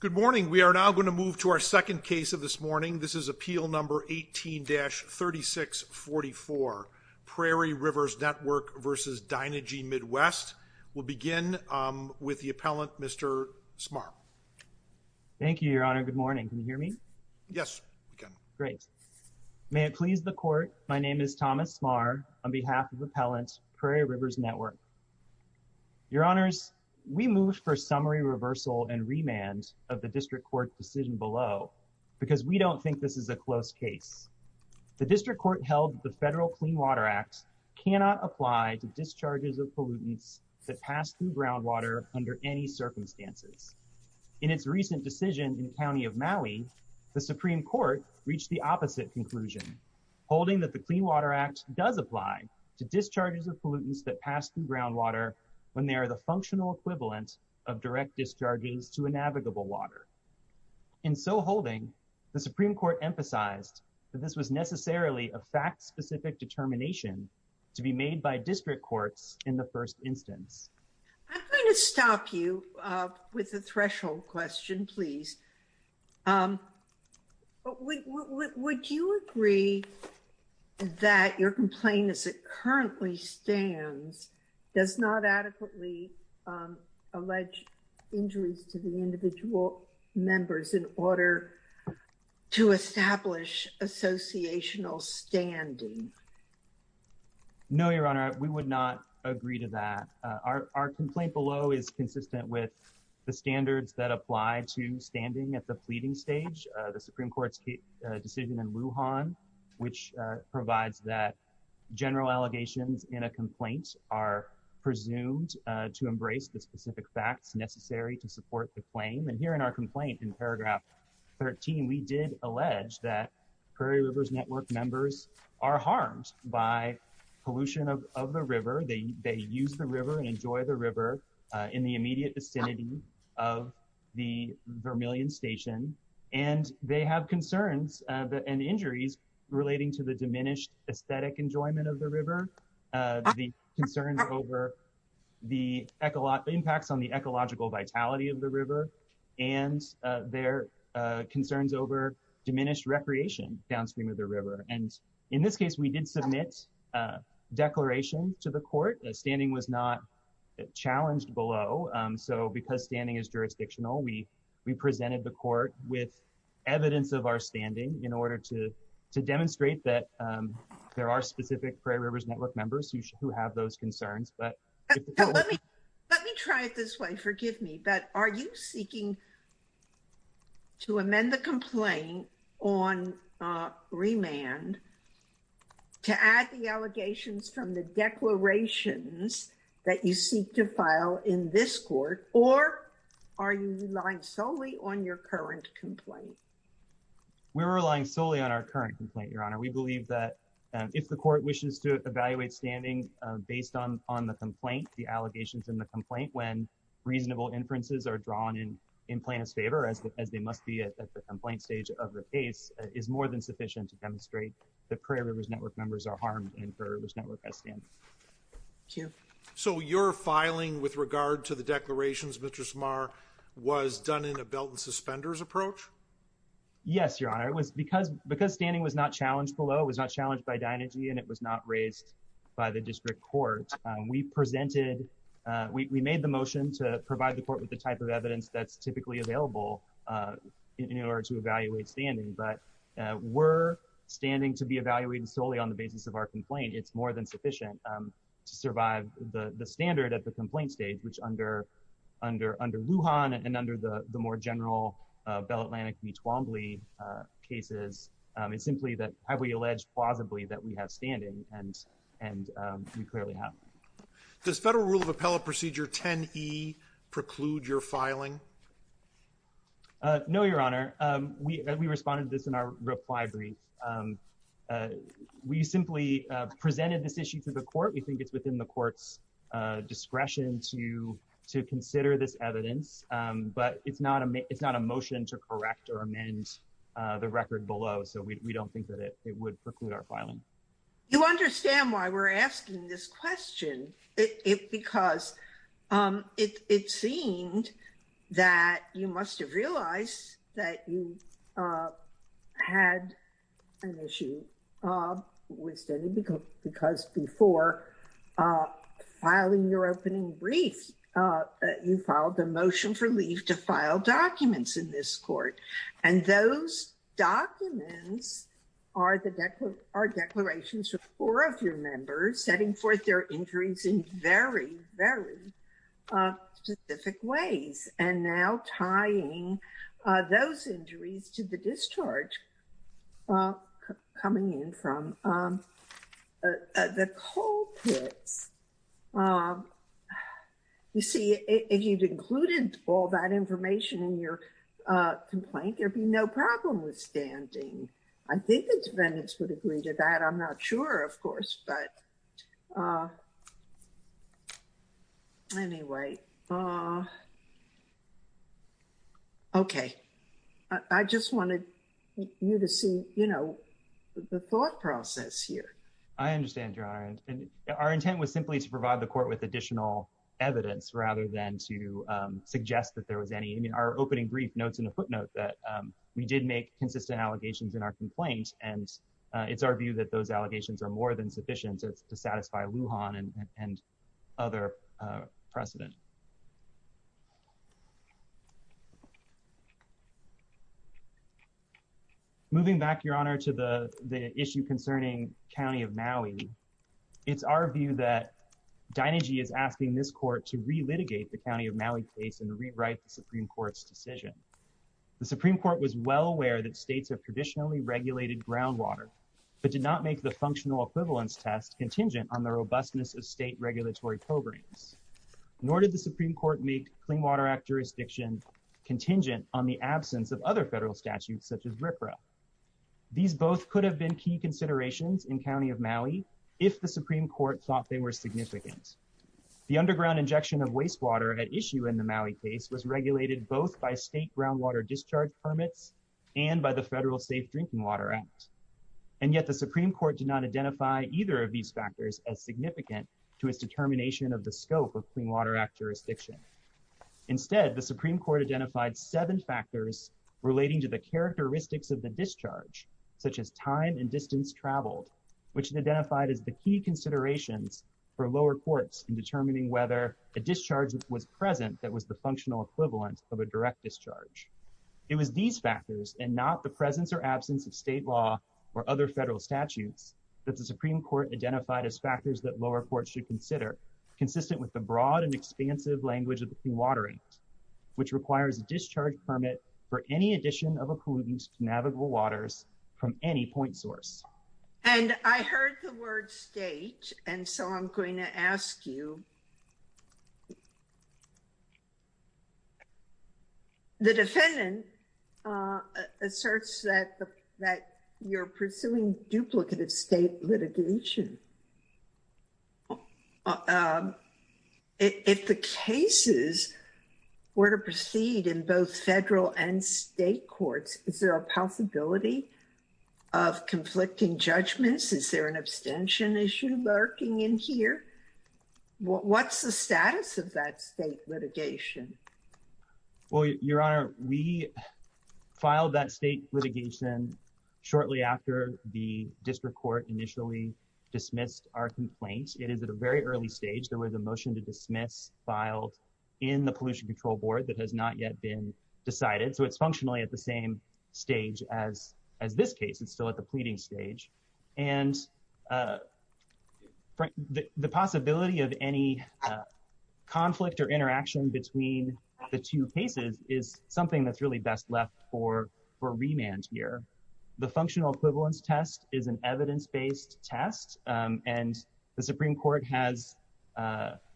Good morning. We are now going to move to our second case of this morning. This is Appeal No. 18-3644, Prairie Rivers Network v. Dynegy Midwest. We'll begin with the appellant, Mr. Smarr. Thank you, Your Honor. Good morning. Can you hear me? Yes, we can. Great. May it please the court, my name is Thomas Smarr on behalf of the appellant, Prairie Rivers Network. Your Honors, we move for summary reversal and remand of the District Court decision below because we don't think this is a close case. The District Court held the Federal Clean Water Act cannot apply to discharges of pollutants that pass through groundwater under any circumstances. In its recent decision in the County of Maui, the Supreme Court reached the opposite conclusion, holding that the Clean Water Act does apply to discharges of pollutants that pass through of direct discharges to inavigable water. In so holding, the Supreme Court emphasized that this was necessarily a fact-specific determination to be made by District Courts in the first instance. I'm going to stop you with the threshold question, please. Um, would you agree that your complaint as it currently stands does not adequately allege injuries to the individual members in order to establish associational standing? No, Your Honor, we would not agree to that. Our complaint below is consistent with the standards that apply to standing at the pleading stage, the Supreme Court's decision in Lujan, which provides that general allegations in a complaint are presumed to embrace the specific facts necessary to support the claim. And here in our complaint in paragraph 13, we did allege that Prairie Rivers Network members are harmed by pollution of the river. They use the river and enjoy the river in the immediate vicinity of the Vermilion Station, and they have concerns and injuries relating to the diminished aesthetic enjoyment of the river, the concerns over the impacts on the ecological vitality of the river, and their concerns over diminished recreation downstream of the river. And in this case, we did submit a declaration to the Court. Standing was not challenged below, so because standing is jurisdictional, we presented the Court with evidence of our standing in order to demonstrate that there are specific Prairie Rivers Network members who have those concerns. Let me try it this way, forgive me, but are you that you seek to file in this court or are you relying solely on your current complaint? We're relying solely on our current complaint, Your Honor. We believe that if the Court wishes to evaluate standing based on the complaint, the allegations in the complaint, when reasonable inferences are drawn in plaintiff's favor, as they must be at the complaint stage of the case, is more than sufficient to demonstrate that Prairie Rivers Network members are harmed and Prairie Rivers Network has standing. Thank you. So your filing with regard to the declarations, Mr. Smarr, was done in a belt and suspenders approach? Yes, Your Honor. Because standing was not challenged below, it was not challenged by Dynagy, and it was not raised by the District Court, we made the motion to provide the Court with the type of evidence that's typically available in order to evaluate standing, but we're standing to be evaluated solely on the basis of our complaint. It's more than sufficient to survive the standard at the complaint stage, which under Lujan and under the more general Bell Atlantic v. Twombly cases, it's simply that have we alleged plausibly that we have standing, and we clearly have. Does Federal Rule of Appellate Procedure 10e preclude your filing? No, Your Honor. We responded to this in our reply brief. We simply presented this issue to the Court. We think it's within the Court's discretion to consider this evidence, but it's not a motion to correct or amend the record below, so we don't think that it would preclude our You must have realized that you had an issue with standing because before filing your opening brief, you filed a motion for leave to file documents in this Court, and those documents are declarations from four of your members setting forth their injuries in very, very specific ways, and now tying those injuries to the discharge coming in from the coal pits. You see, if you'd included all that information in your complaint, there'd be no problem with standing. I think the defendants would agree to that. I'm not sure, of course, but anyway, okay. I just wanted you to see the thought process here. I understand, Your Honor, and our intent was simply to provide the Court with additional evidence rather than to suggest that there was any. I mean, our opening brief that we did make consistent allegations in our complaint, and it's our view that those allegations are more than sufficient to satisfy Lujan and other precedent. Moving back, Your Honor, to the issue concerning County of Maui, it's our view that Dinegy is asking this Court to re-litigate the County of Maui case and rewrite the Supreme Court's decision. The Supreme Court was well aware that states have traditionally regulated groundwater, but did not make the functional equivalence test contingent on the robustness of state regulatory programs, nor did the Supreme Court make Clean Water Act jurisdiction contingent on the absence of other federal statutes such as RPRA. These both could have been key considerations in County of Maui if the Supreme Court thought they were significant. The underground injection of wastewater at issue in the Maui case was regulated both by state groundwater discharge permits and by the Federal Safe Drinking Water Act, and yet the Supreme Court did not identify either of these factors as significant to its determination of the scope of Clean Water Act jurisdiction. Instead, the Supreme Court identified seven factors relating to the characteristics of the discharge, such as time and distance traveled, which it identified as the key considerations for lower courts in determining whether a discharge was present that was the functional equivalent of a direct discharge. It was these factors, and not the presence or absence of state law or other federal statutes, that the Supreme Court identified as factors that lower courts should consider, consistent with the broad and expansive language of the Clean Water Act, which requires a discharge permit for any addition of a pollutant to navigable waters from any point source. And I heard the word state, and so I'm going to ask you. The defendant asserts that you're pursuing duplicative state litigation. If the cases were to proceed in both federal and state courts, is there a possibility of conflicting judgments? Is there an abstention issue lurking in here? What's the status of that state litigation? Well, Your Honor, we filed that state litigation shortly after the district court initially dismissed our complaint. It is at a very early stage. There was a motion to dismiss filed in the Pollution Control Board that has not yet been decided. So it's functionally at the same stage as this case. It's still at the pleading stage. And the possibility of any conflict or interaction between the two cases is something that's really best left for remand here. The and the Supreme Court has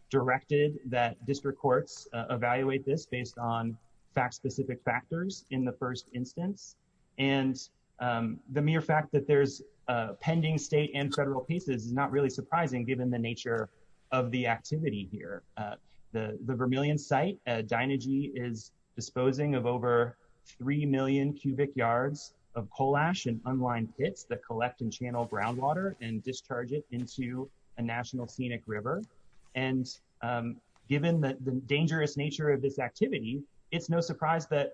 directed that district courts evaluate this based on fact-specific factors in the first instance. And the mere fact that there's a pending state and federal pieces is not really surprising given the nature of the activity here. The Vermilion site, Dynagy, is disposing of over 3 million cubic yards of coal ash and unlined pits that collect and channel groundwater and discharge it into a national scenic river. And given the dangerous nature of this activity, it's no surprise that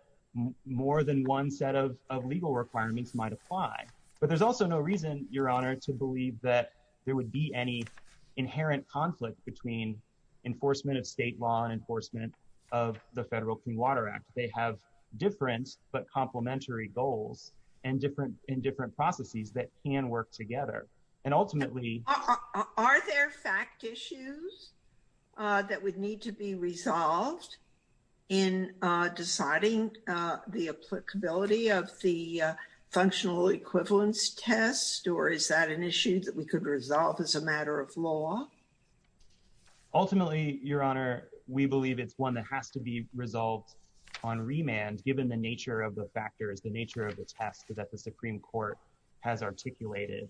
more than one set of legal requirements might apply. But there's also no reason, Your Honor, to believe that there would be any inherent conflict between enforcement of state law and enforcement of the Federal Clean Water Act. They have different but complementary goals and different in different processes that can work together. And ultimately, are there fact issues that would need to be resolved in deciding the applicability of the functional equivalence test? Or is that an issue that we could resolve as a matter of law? Ultimately, Your Honor, we believe it's one that has to be resolved on remand, given the nature of the factors, the nature of the test that the Supreme Court has articulated.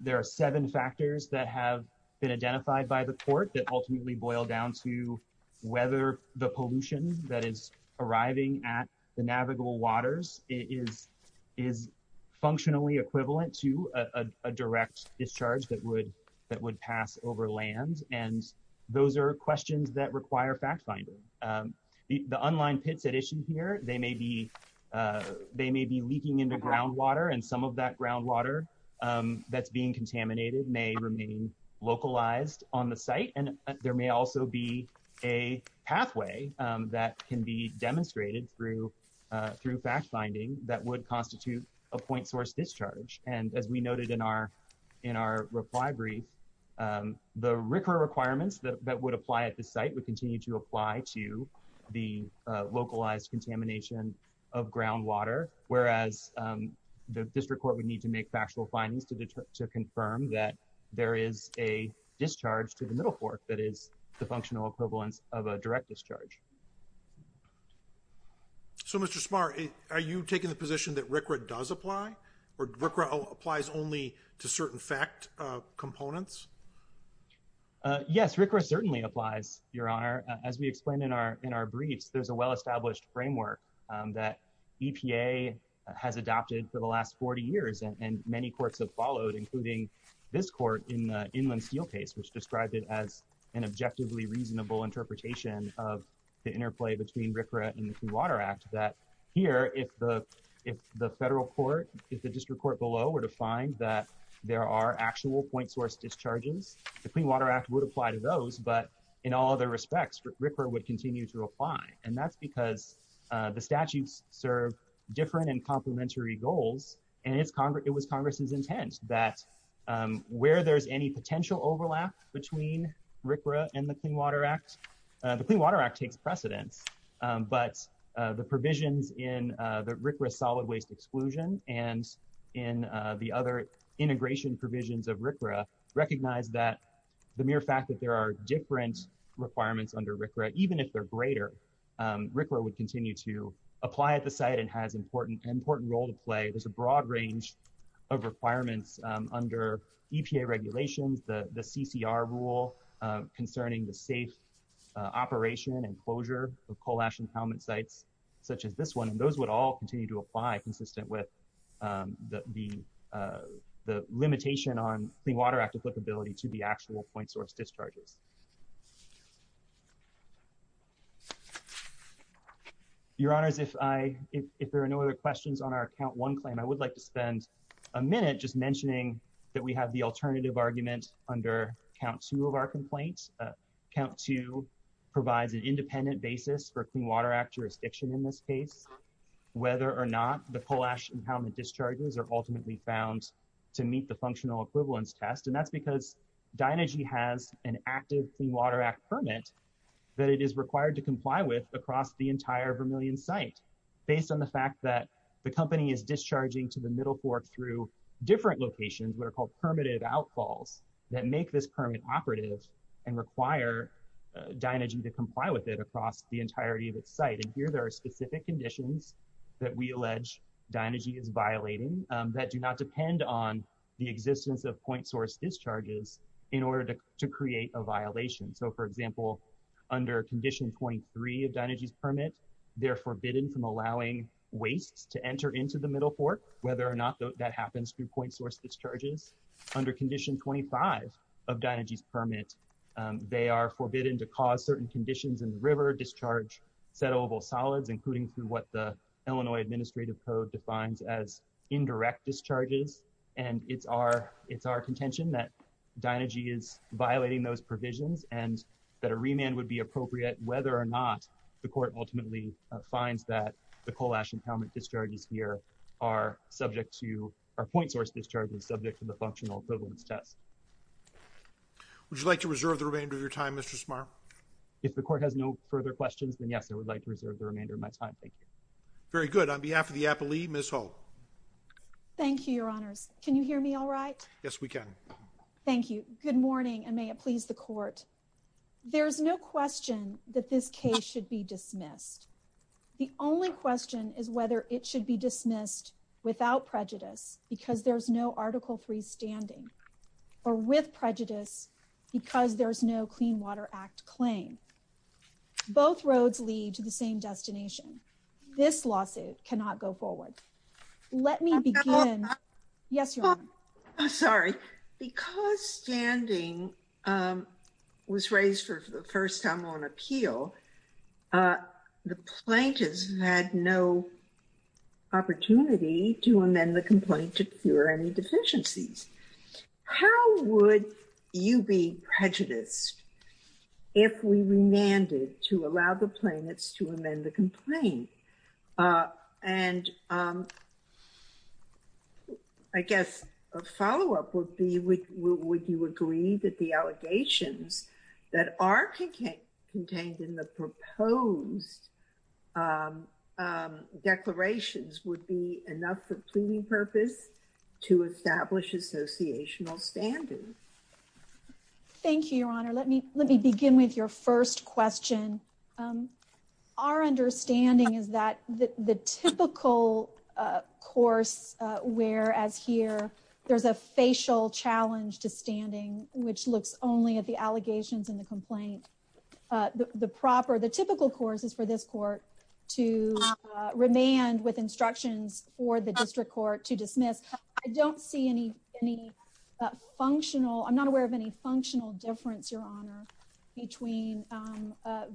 There are seven factors that have been identified by the Court that ultimately boil down to whether the pollution that is arriving at the navigable waters is functionally equivalent to a direct discharge that would pass over land. And those are questions that require fact finding. The unlined pits at issue here, they may be leaking into groundwater, and some of that groundwater that's being contaminated may remain localized on the site. And there may also be a pathway that can be demonstrated through fact finding that would constitute a point source discharge. And as we noted in our reply brief, the RCRA requirements that would apply at the site would continue to apply to the localized contamination of groundwater, whereas the District Court would need to make factual findings to confirm that there is a discharge to the Middle Fork that is the functional equivalence of a direct discharge. So, Mr. Smart, are you taking the position that RCRA does apply, or RCRA applies only to certain fact components? Yes, RCRA certainly applies, Your Honor. As we explained in our briefs, there's a well-established framework that EPA has adopted for the last 40 years, and many courts have followed, including this court in the Inland Steel case, which described it as an objectively reasonable interpretation of the interplay between RCRA and the Clean Water Act, that here, if the Federal Court, if the District Court below were to find that there are actual point source discharges the Clean Water Act would apply to those, but in all other respects, RCRA would continue to apply, and that's because the statutes serve different and complementary goals, and it's Congress, it was Congress's intent that where there's any potential overlap between RCRA and the Clean Water Act, the Clean Water Act takes precedence, but the provisions in the RCRA solid waste exclusion and in the other integration provisions of RCRA recognize that the mere fact that there are different requirements under RCRA, even if they're greater, RCRA would continue to apply at the site and has an important role to play. There's a broad range of requirements under EPA regulations, the CCR rule concerning the safe operation and closure of coal ash impoundment sites such as this one, and those would all continue to apply consistent with the limitation on Clean Water Act applicability to the actual point source discharges. Your Honors, if there are no other questions on our count one claim, I would like to spend a minute just mentioning that we have the alternative argument under count two of our complaints. Count two provides an independent basis for Clean Water Act jurisdiction in this case, whether or not the coal ash impoundment discharges are ultimately found to meet the functional equivalence test, and that's because Dynagy has an active Clean Water Act permit that it is required to comply with across the entire Vermilion site based on the fact that the company is discharging to the Middle Fork through different locations that are called permittive outfalls that make this permit operative and require Dynagy to comply with it across the entirety of its site. And here there are specific conditions that we allege Dynagy is violating that do not depend on the existence of point source discharges in order to create a violation. So for example, under condition 23 of Dynagy's permit, they're forbidden from allowing wastes to enter into the Middle Fork, whether or not that happens through point source discharges. Under condition 25 of Dynagy's permit, they are forbidden to cause certain conditions in the river, discharge settleable solids, including through what the Illinois Administrative Code defines as indirect discharges, and it's our contention that Dynagy is violating those provisions and that a remand would be appropriate whether or not the court ultimately finds that the coal ash impoundment discharges here are subject to, are point source discharges subject to the functional equivalence test. Would you like to reserve the remainder of your time, Mr. Smarr? If the court has no further questions, then yes, I would like to reserve the remainder of my time. Thank you. Very good. On behalf of the Appalee, Ms. Holt. Thank you, your honors. Can you hear me all right? Yes, we can. Thank you. Good morning, and may it please the court. There's no question that this case should be dismissed. The only question is whether it should be dismissed without prejudice because there's no Article 3 standing or with prejudice because there's no Clean Water Act claim. Both roads lead to the same destination. This lawsuit cannot go forward. Let me begin. Yes, your honor. Sorry. Because standing was raised for the first time on appeal, the plaintiffs had no opportunity to amend the complaint to cure any deficiencies. How would you be prejudiced if we remanded to allow the plaintiffs to amend the complaint? And I guess a follow-up would be, would you agree that the allegations that are contained in the proposed declarations would be enough for pleading purpose to establish associational standards? Thank you, your honor. Let me let me begin with your first question. Our understanding is that the typical course, whereas here there's a facial challenge to allegations in the complaint, the typical course is for this court to remand with instructions for the district court to dismiss. I don't see any functional, I'm not aware of any functional difference, your honor, between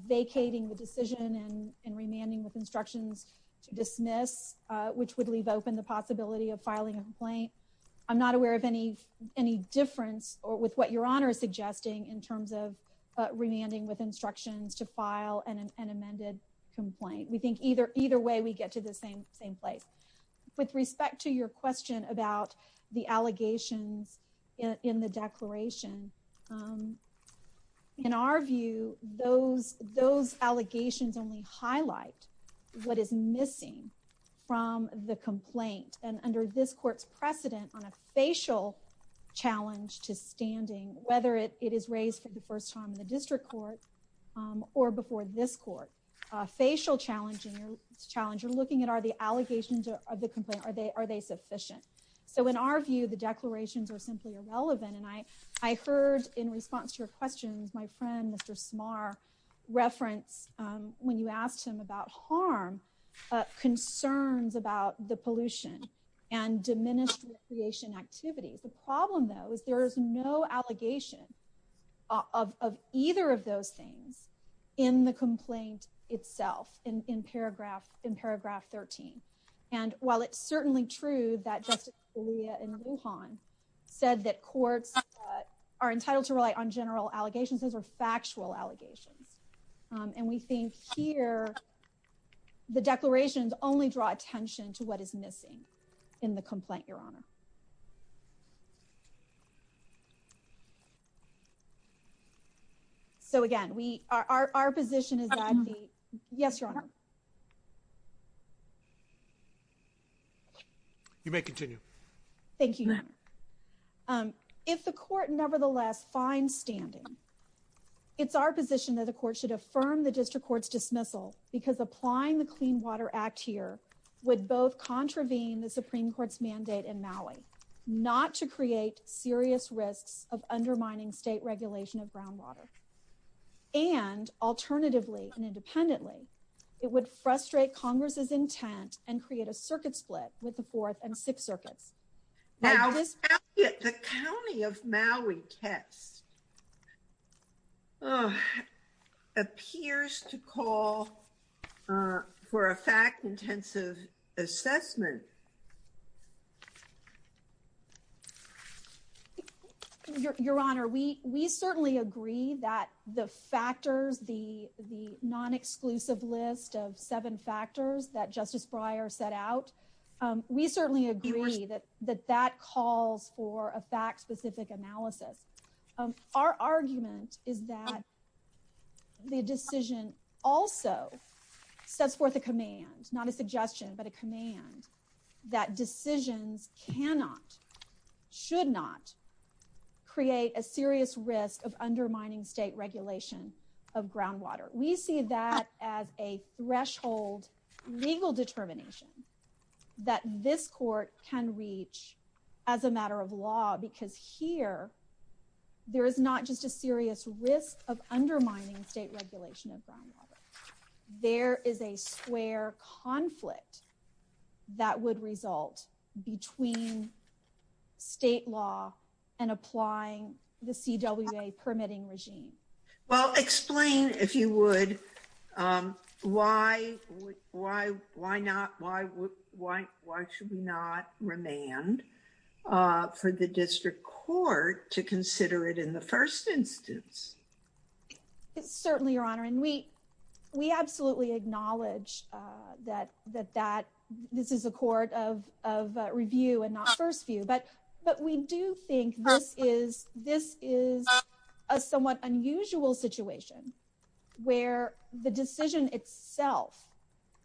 vacating the decision and remanding with instructions to dismiss, which would leave open the possibility of filing a complaint. I'm not aware of any difference or with what your honor is suggesting in terms of remanding with instructions to file an amended complaint. We think either way we get to the same same place. With respect to your question about the allegations in the declaration, in our view those allegations only highlight what is missing from the complaint. And under this court's precedent on a facial challenge to standing, whether it is raised for the first time in the district court or before this court, a facial challenge in your challenge you're looking at are the allegations of the complaint, are they are they sufficient? So in our view the declarations are simply irrelevant and I heard in response to your questions my friend Mr. Smarr reference when you asked him about harm, concerns about the pollution and diminished recreation activities. The problem though is there is no allegation of either of those things in the complaint itself in paragraph in paragraph 13. And while it's certainly true that Justice Scalia and Lujan said that courts are entitled to rely on general allegations, those are factual allegations. And we think here the declarations only draw attention to what is missing in the complaint your honor. So again we are our position is yes your honor. You may continue. Thank you your honor. If the court nevertheless finds standing it's our that the court should affirm the district court's dismissal because applying the Clean Water Act here would both contravene the Supreme Court's mandate in Maui not to create serious risks of undermining state regulation of groundwater. And alternatively and independently it would frustrate Congress's intent and create a circuit split with the fourth and sixth circuits. Now the county of Maui test appears to call for a fact-intensive assessment. Your honor we we certainly agree that the factors the the non-exclusive list of seven factors that that that calls for a fact-specific analysis. Our argument is that the decision also sets forth a command not a suggestion but a command that decisions cannot should not create a serious risk of undermining state regulation of groundwater. We see that as a as a matter of law because here there is not just a serious risk of undermining state regulation of groundwater. There is a square conflict that would result between state law and applying the CWA permitting regime. Well explain if you would um why why why not why would why why should we not remand uh for the district court to consider it in the first instance? It's certainly your honor and we we absolutely acknowledge uh that that that this is a court of of review and not first view but but we do think this is this is a somewhat unusual situation where the decision itself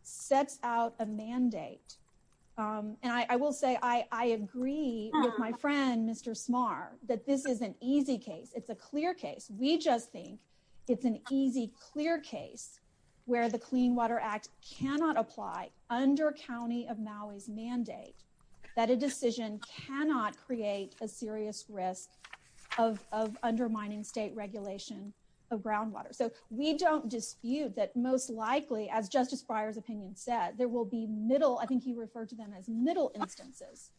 sets out a mandate. Um and I I will say I I agree with my friend Mr. Smarr that this is an easy case. It's a clear case. We just think it's an easy clear case where the Clean Water Act cannot apply under county of Maui's mandate that a decision cannot create a serious risk of of undermining state regulation of groundwater. So we don't dispute that most likely as Justice Breyer's opinion said there will be middle I think he referred to them as middle instances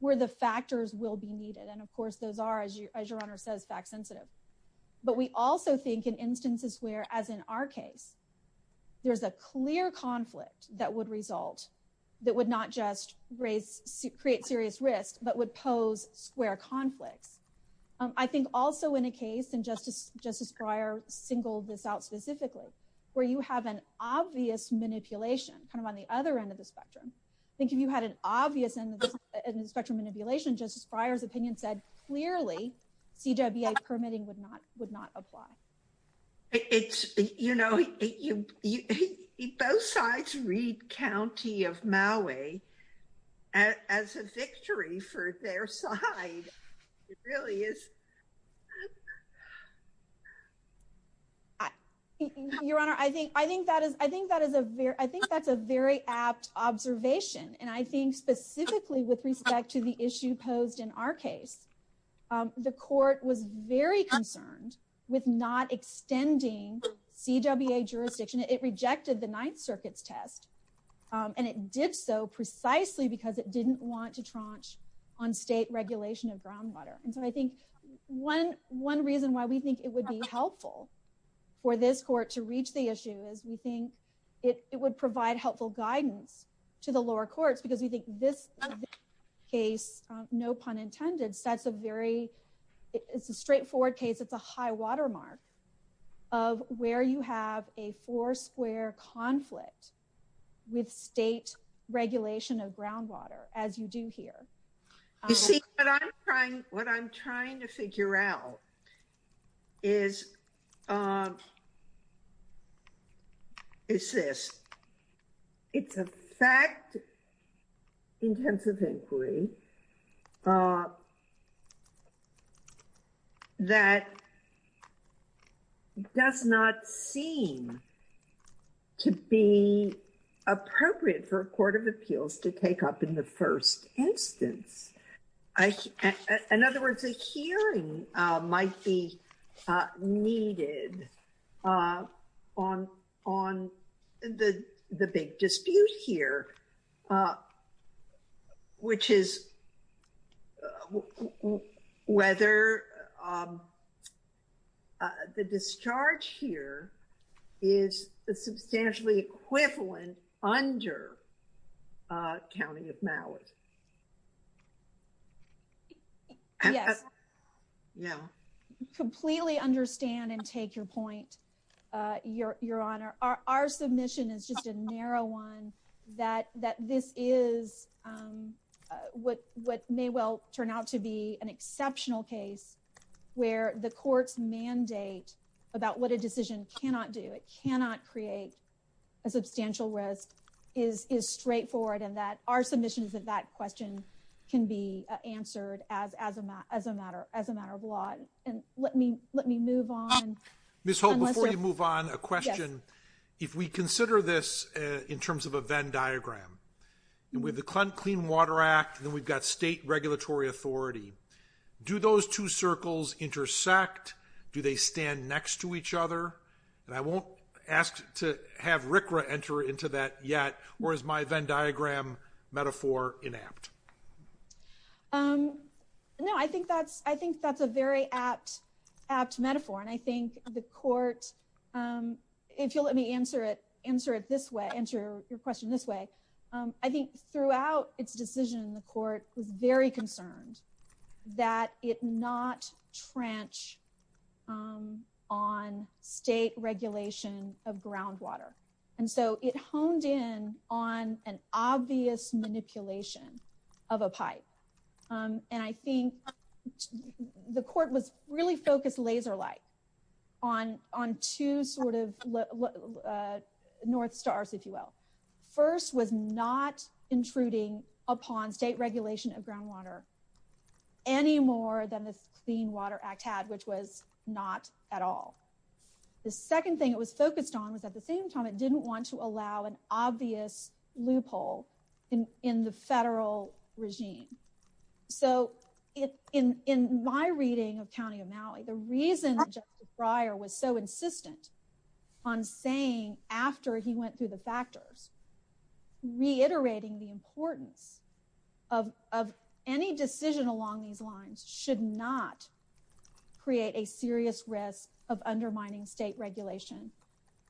where the factors will be needed and of course those are as your honor says fact sensitive but we also think in instances where as in our case there's a clear conflict that would result that would not just raise create serious risk but would pose square conflicts. I think also in a case and Justice Justice Breyer singled this out specifically where you have an obvious manipulation kind of on the other end of the spectrum. I think if you had an obvious end of the spectrum manipulation Justice Breyer's opinion said clearly CWA permitting would would not apply. It's you know you you both sides read county of Maui as a victory for their side. It really is your honor I think I think that is I think that is a very I think that's a very apt observation and I think specifically with respect to the issue posed in our case the court was very concerned with not extending CWA jurisdiction. It rejected the Ninth Circuit's test and it did so precisely because it didn't want to tranche on state regulation of groundwater and so I think one one reason why we think it would be helpful for this court to reach the issue is we think it it would provide helpful guidance to the lower courts because we think this case no pun intended sets a very it's a straightforward case it's a high watermark of where you have a four square conflict with state regulation of groundwater as you do here. You see what I'm trying what I'm trying to figure out is is this it's a fact intensive inquiry that does not seem to be appropriate for a court of appeals to take up in the first instance. I in other words a hearing might be needed on on the the big dispute here which is whether the discharge here is a substantially equivalent under county of Mallard. Yes yeah completely understand and take your point uh your your honor our our submission is just a narrow one that that this is um what what may well turn out to be an exceptional case where the court's mandate about what a decision cannot do it cannot create a substantial risk is is straightforward and that our submission is that that question can be answered as as a matter as a matter of law and let me let me move on. Ms. Holt before you move on a question if we consider this in terms of a Venn diagram with the Clean Water Act then we've got state regulatory authority. Do those two circles intersect do they stand next to each other and I won't ask to have Rickra enter into that yet or is my Venn diagram metaphor inapt? Um no I think that's I think that's a very apt apt metaphor and I think the court um if you'll let me answer it answer it this way answer your question this way um I think throughout its decision the court was very concerned that it not trench um on state regulation of groundwater. So it honed in on an obvious manipulation of a pipe um and I think the court was really focused laser-like on on two sort of uh north stars if you will. First was not intruding upon state regulation of groundwater any more than this Clean Water Act had which was not at all. The second thing it was focused on was at the same time it didn't want to allow an obvious loophole in in the federal regime. So it in in my reading of County of Maui the reason Justice Breyer was so insistent on saying after he went through the factors reiterating the importance of of any decision along these lines should not create a serious risk of undermining state regulation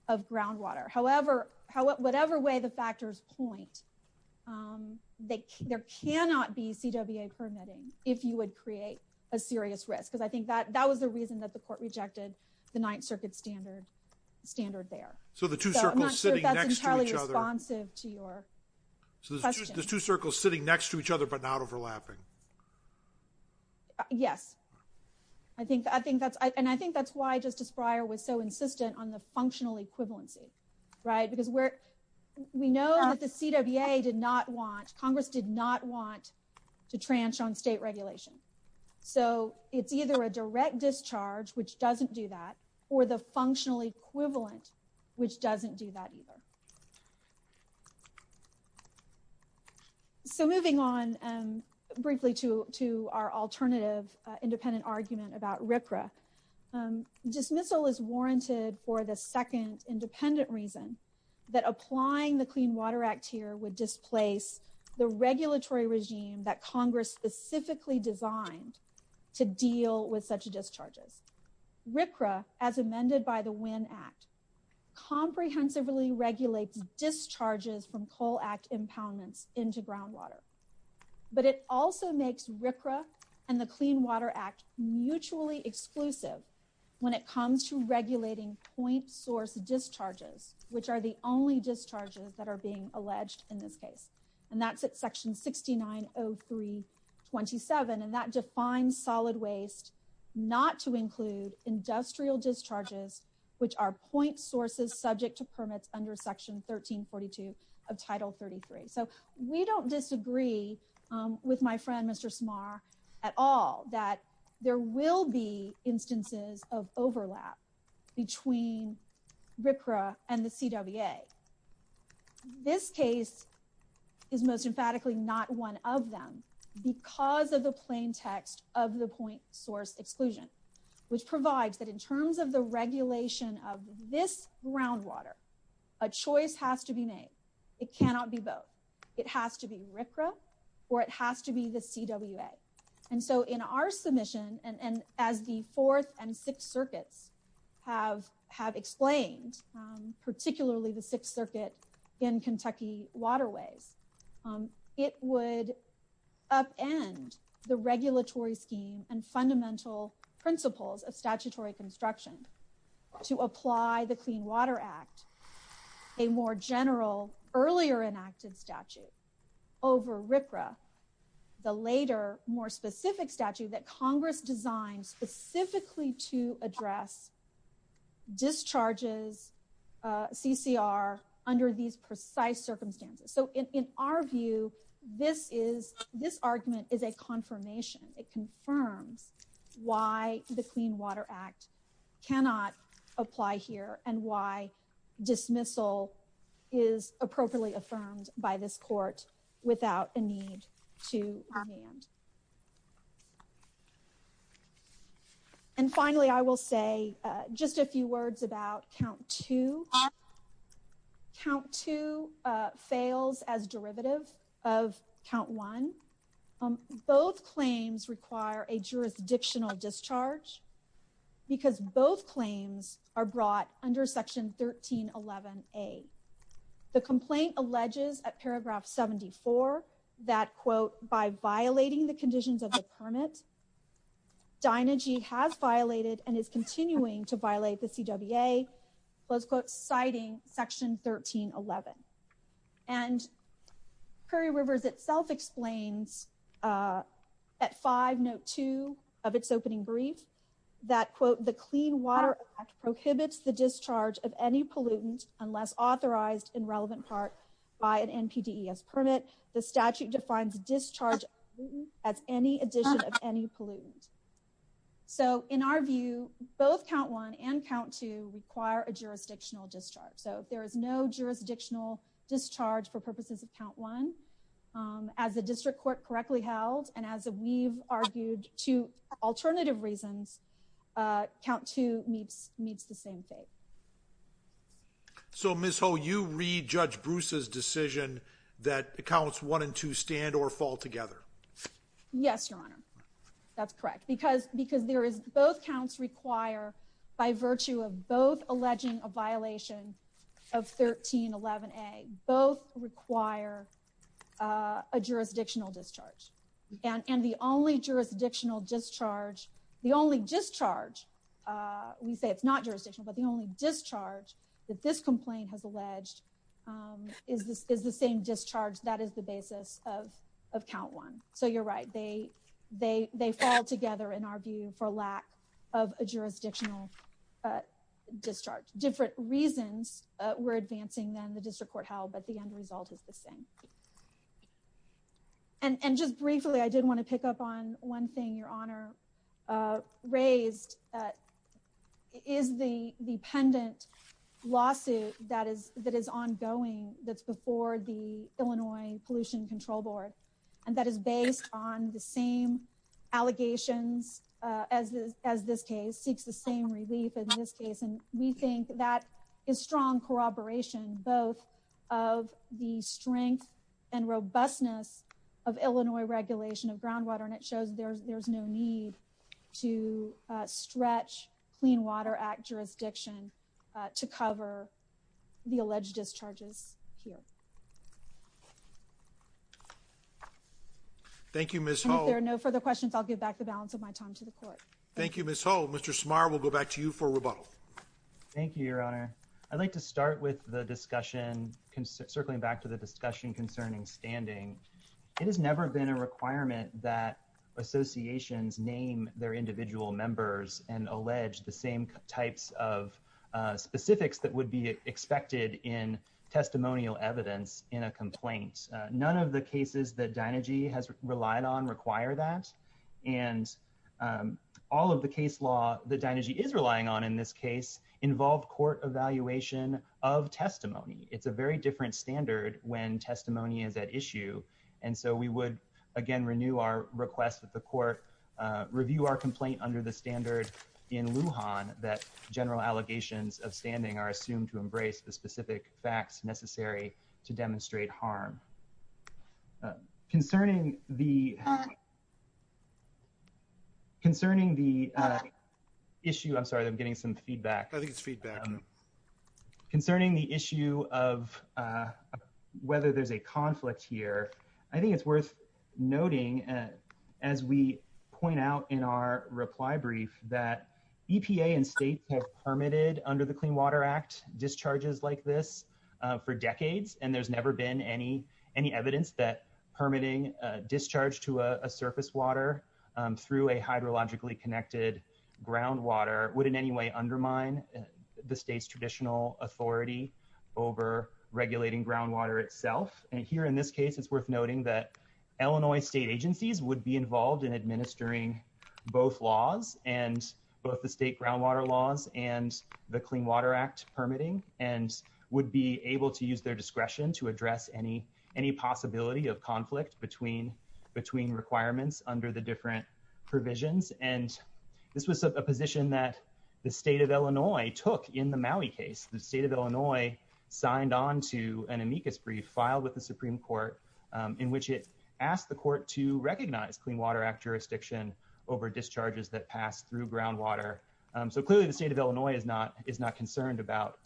of groundwater. However however whatever way the factors point um they there cannot be CWA permitting if you would create a serious risk because I think that that was the reason that the court rejected the Ninth Circuit standard standard there. So the two circles sitting next entirely responsive to your question. So there's two circles sitting next to each other but not overlapping. Yes I think I think that's I and I think that's why Justice Breyer was so insistent on the functional equivalency right because we're we know that the CWA did not want Congress did not want to tranche on state regulation. So it's either a direct discharge which doesn't do that or the functional equivalent which doesn't do that either. So moving on um briefly to to our alternative uh independent argument about RCRA. Dismissal is warranted for the second independent reason that applying the Clean Water Act here would displace the regulatory regime that Congress specifically designed to deal with such discharges. RCRA as amended by the Winn Act comprehensively regulates discharges from Coal Act impoundments into groundwater but it also makes RCRA and the Clean Water Act mutually exclusive when it comes to regulating point source discharges which are the only discharges that are being alleged in this case and that's at section 6903 27 and that defines solid waste not to include industrial discharges which are point sources subject to permits under section 1342 of title 33. So we don't disagree um with my friend Mr. Smarr at all that there will be instances of overlap between RCRA and the CWA. This case is most emphatically not one of them because of the plain text of the point source exclusion which provides that in terms of the regulation of this groundwater a choice has to be made. It cannot be both. It has to be RCRA or it has to be the CWA and so in our circuits have have explained particularly the sixth circuit in Kentucky waterways it would upend the regulatory scheme and fundamental principles of statutory construction to apply the Clean Water Act a more general earlier enacted statute over RCRA the later more specific statute that Congress designed specifically to address discharges CCR under these precise circumstances. So in our view this is this argument is a confirmation it confirms why the Clean Water Act cannot apply here and why dismissal is appropriately affirmed by this court without a need to demand. And finally I will say just a few words about count two. Count two fails as derivative of count one. Both claims require a jurisdictional discharge because both claims are brought under section 1311a. The complaint alleges at paragraph 74 that quote by violating the conditions of the permit Dinergy has violated and is continuing to violate the CWA quote citing section 1311. And Prairie Rivers itself explains at five note two of its opening brief that quote the Clean Water Act prohibits the discharge of any pollutant unless authorized in relevant part by an NPDES permit. The statute defines discharge as any addition of any pollutant. So in our view both count one and count two require a jurisdictional discharge. So if there is no jurisdictional discharge for purposes of count one as the district court correctly held and as we've argued two alternative reasons count two meets meets the same fate. So Ms. Ho you read Judge Bruce's decision that accounts one and two stand or fall together. Yes your honor that's correct because because there is both counts require by virtue of both alleging a violation of 1311a both require a jurisdictional discharge and and the only jurisdictional discharge the only discharge uh we say it's not jurisdictional but the only discharge that this complaint has alleged um is this is the same discharge that is the basis of of count one. So you're right they they they fall together in our view for lack of a jurisdictional discharge. Different reasons we're advancing than the district court held but the end result is the same. And and just briefly I did want to pick up on one thing your honor uh raised uh is the the pendant lawsuit that is that is ongoing that's before the Illinois Pollution Control Board and that is based on the same allegations uh as this as this case seeks the relief in this case and we think that is strong corroboration both of the strength and robustness of Illinois regulation of groundwater and it shows there's there's no need to stretch Clean Water Act jurisdiction to cover the alleged discharges here. Thank you Ms. Ho. If there are no further questions I'll give back the balance of my time to the court. Thank you Ms. Ho. Mr. Smarr we'll go back to you for rebuttal. Thank you your honor. I'd like to start with the discussion circling back to the discussion concerning standing. It has never been a requirement that associations name their individual members and allege the same types of specifics that would be expected in testimonial evidence in a complaint. None of the cases that Dynegy has relied on require that and all of the case law that Dynegy is relying on in this case involve court evaluation of testimony. It's a very different standard when testimony is at issue and so we would again renew our request that the court review our complaint under the standard in Lujan that general allegations of standing are assumed to embrace the specific facts necessary to demonstrate harm. Concerning the concerning the issue I'm sorry I'm getting some feedback. I think it's feedback. Concerning the issue of whether there's a conflict here I think it's worth noting as we point out in our reply brief that EPA and states have permitted under the Clean Water Act discharges like this for decades and there's never been any any evidence that permitting a discharge to a surface water through a hydrologically connected groundwater would in any way undermine the state's traditional authority over regulating groundwater itself. Here in this case it's worth noting that Illinois state agencies would be involved in administering both laws and both the state groundwater laws and the Clean Water Act permitting and would be able to use their discretion to address any possibility of conflict between requirements under the different provisions and this was a position that the state of Illinois took in the Maui case. The Supreme Court in which it asked the court to recognize Clean Water Act jurisdiction over discharges that pass through groundwater. So clearly the state of Illinois is not concerned about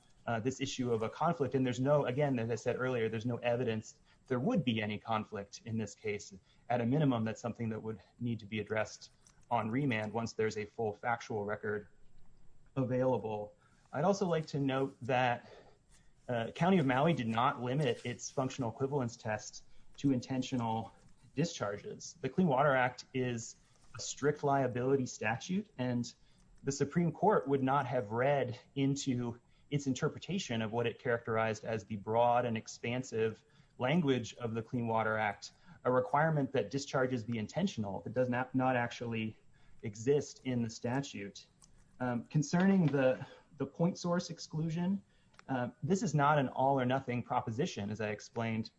this issue of a conflict and there's no again as I said earlier there's no evidence there would be any conflict in this case at a minimum that's something that would need to be addressed on remand once there's a full factual record available. I'd also like to note that County of Maui did not limit its functional equivalence tests to intentional discharges. The Clean Water Act is a strict liability statute and the Supreme Court would not have read into its interpretation of what it characterized as the broad and expansive language of the Clean Water Act a requirement that discharges be intentional. It does not actually exist in the statute. Concerning the point source exclusion this is not an all or nothing proposition as I explained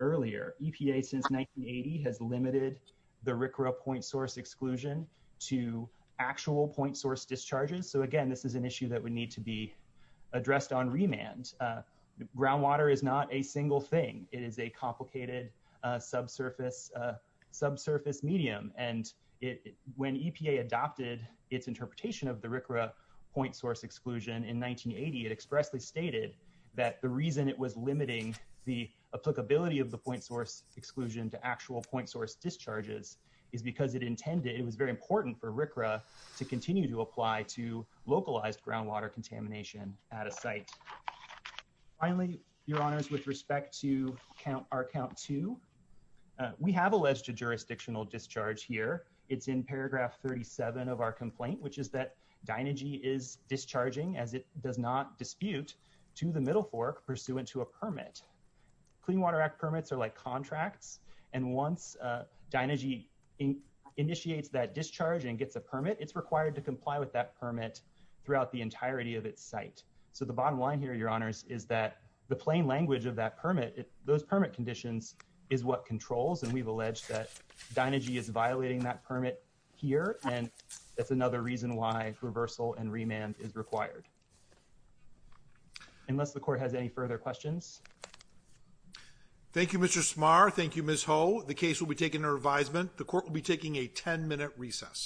earlier. EPA since 1980 has limited the RCRA point source exclusion to actual point source discharges so again this is an issue that would need to be addressed on remand. Groundwater is not a single thing. It is a complicated subsurface medium and when EPA adopted its interpretation of the RCRA point source exclusion in 1980 it expressly stated that the reason it was limiting the applicability of the point source exclusion to actual point source discharges is because it intended it was very important for RCRA to continue to apply to localized groundwater contamination at a site. Finally your honors with respect to count our complaint which is that Dynagy is discharging as it does not dispute to the middle fork pursuant to a permit. Clean Water Act permits are like contracts and once Dynagy initiates that discharge and gets a permit it's required to comply with that permit throughout the entirety of its site. So the bottom line here your honors is that the plain language of that permit those permit conditions is what controls and we've alleged that Dynagy is violating that permit here and that's another reason why reversal and remand is required. Unless the court has any further questions. Thank you Mr. Smarr. Thank you Ms. Ho. The case will be taken to revisement. The court will be taking a 10-minute recess.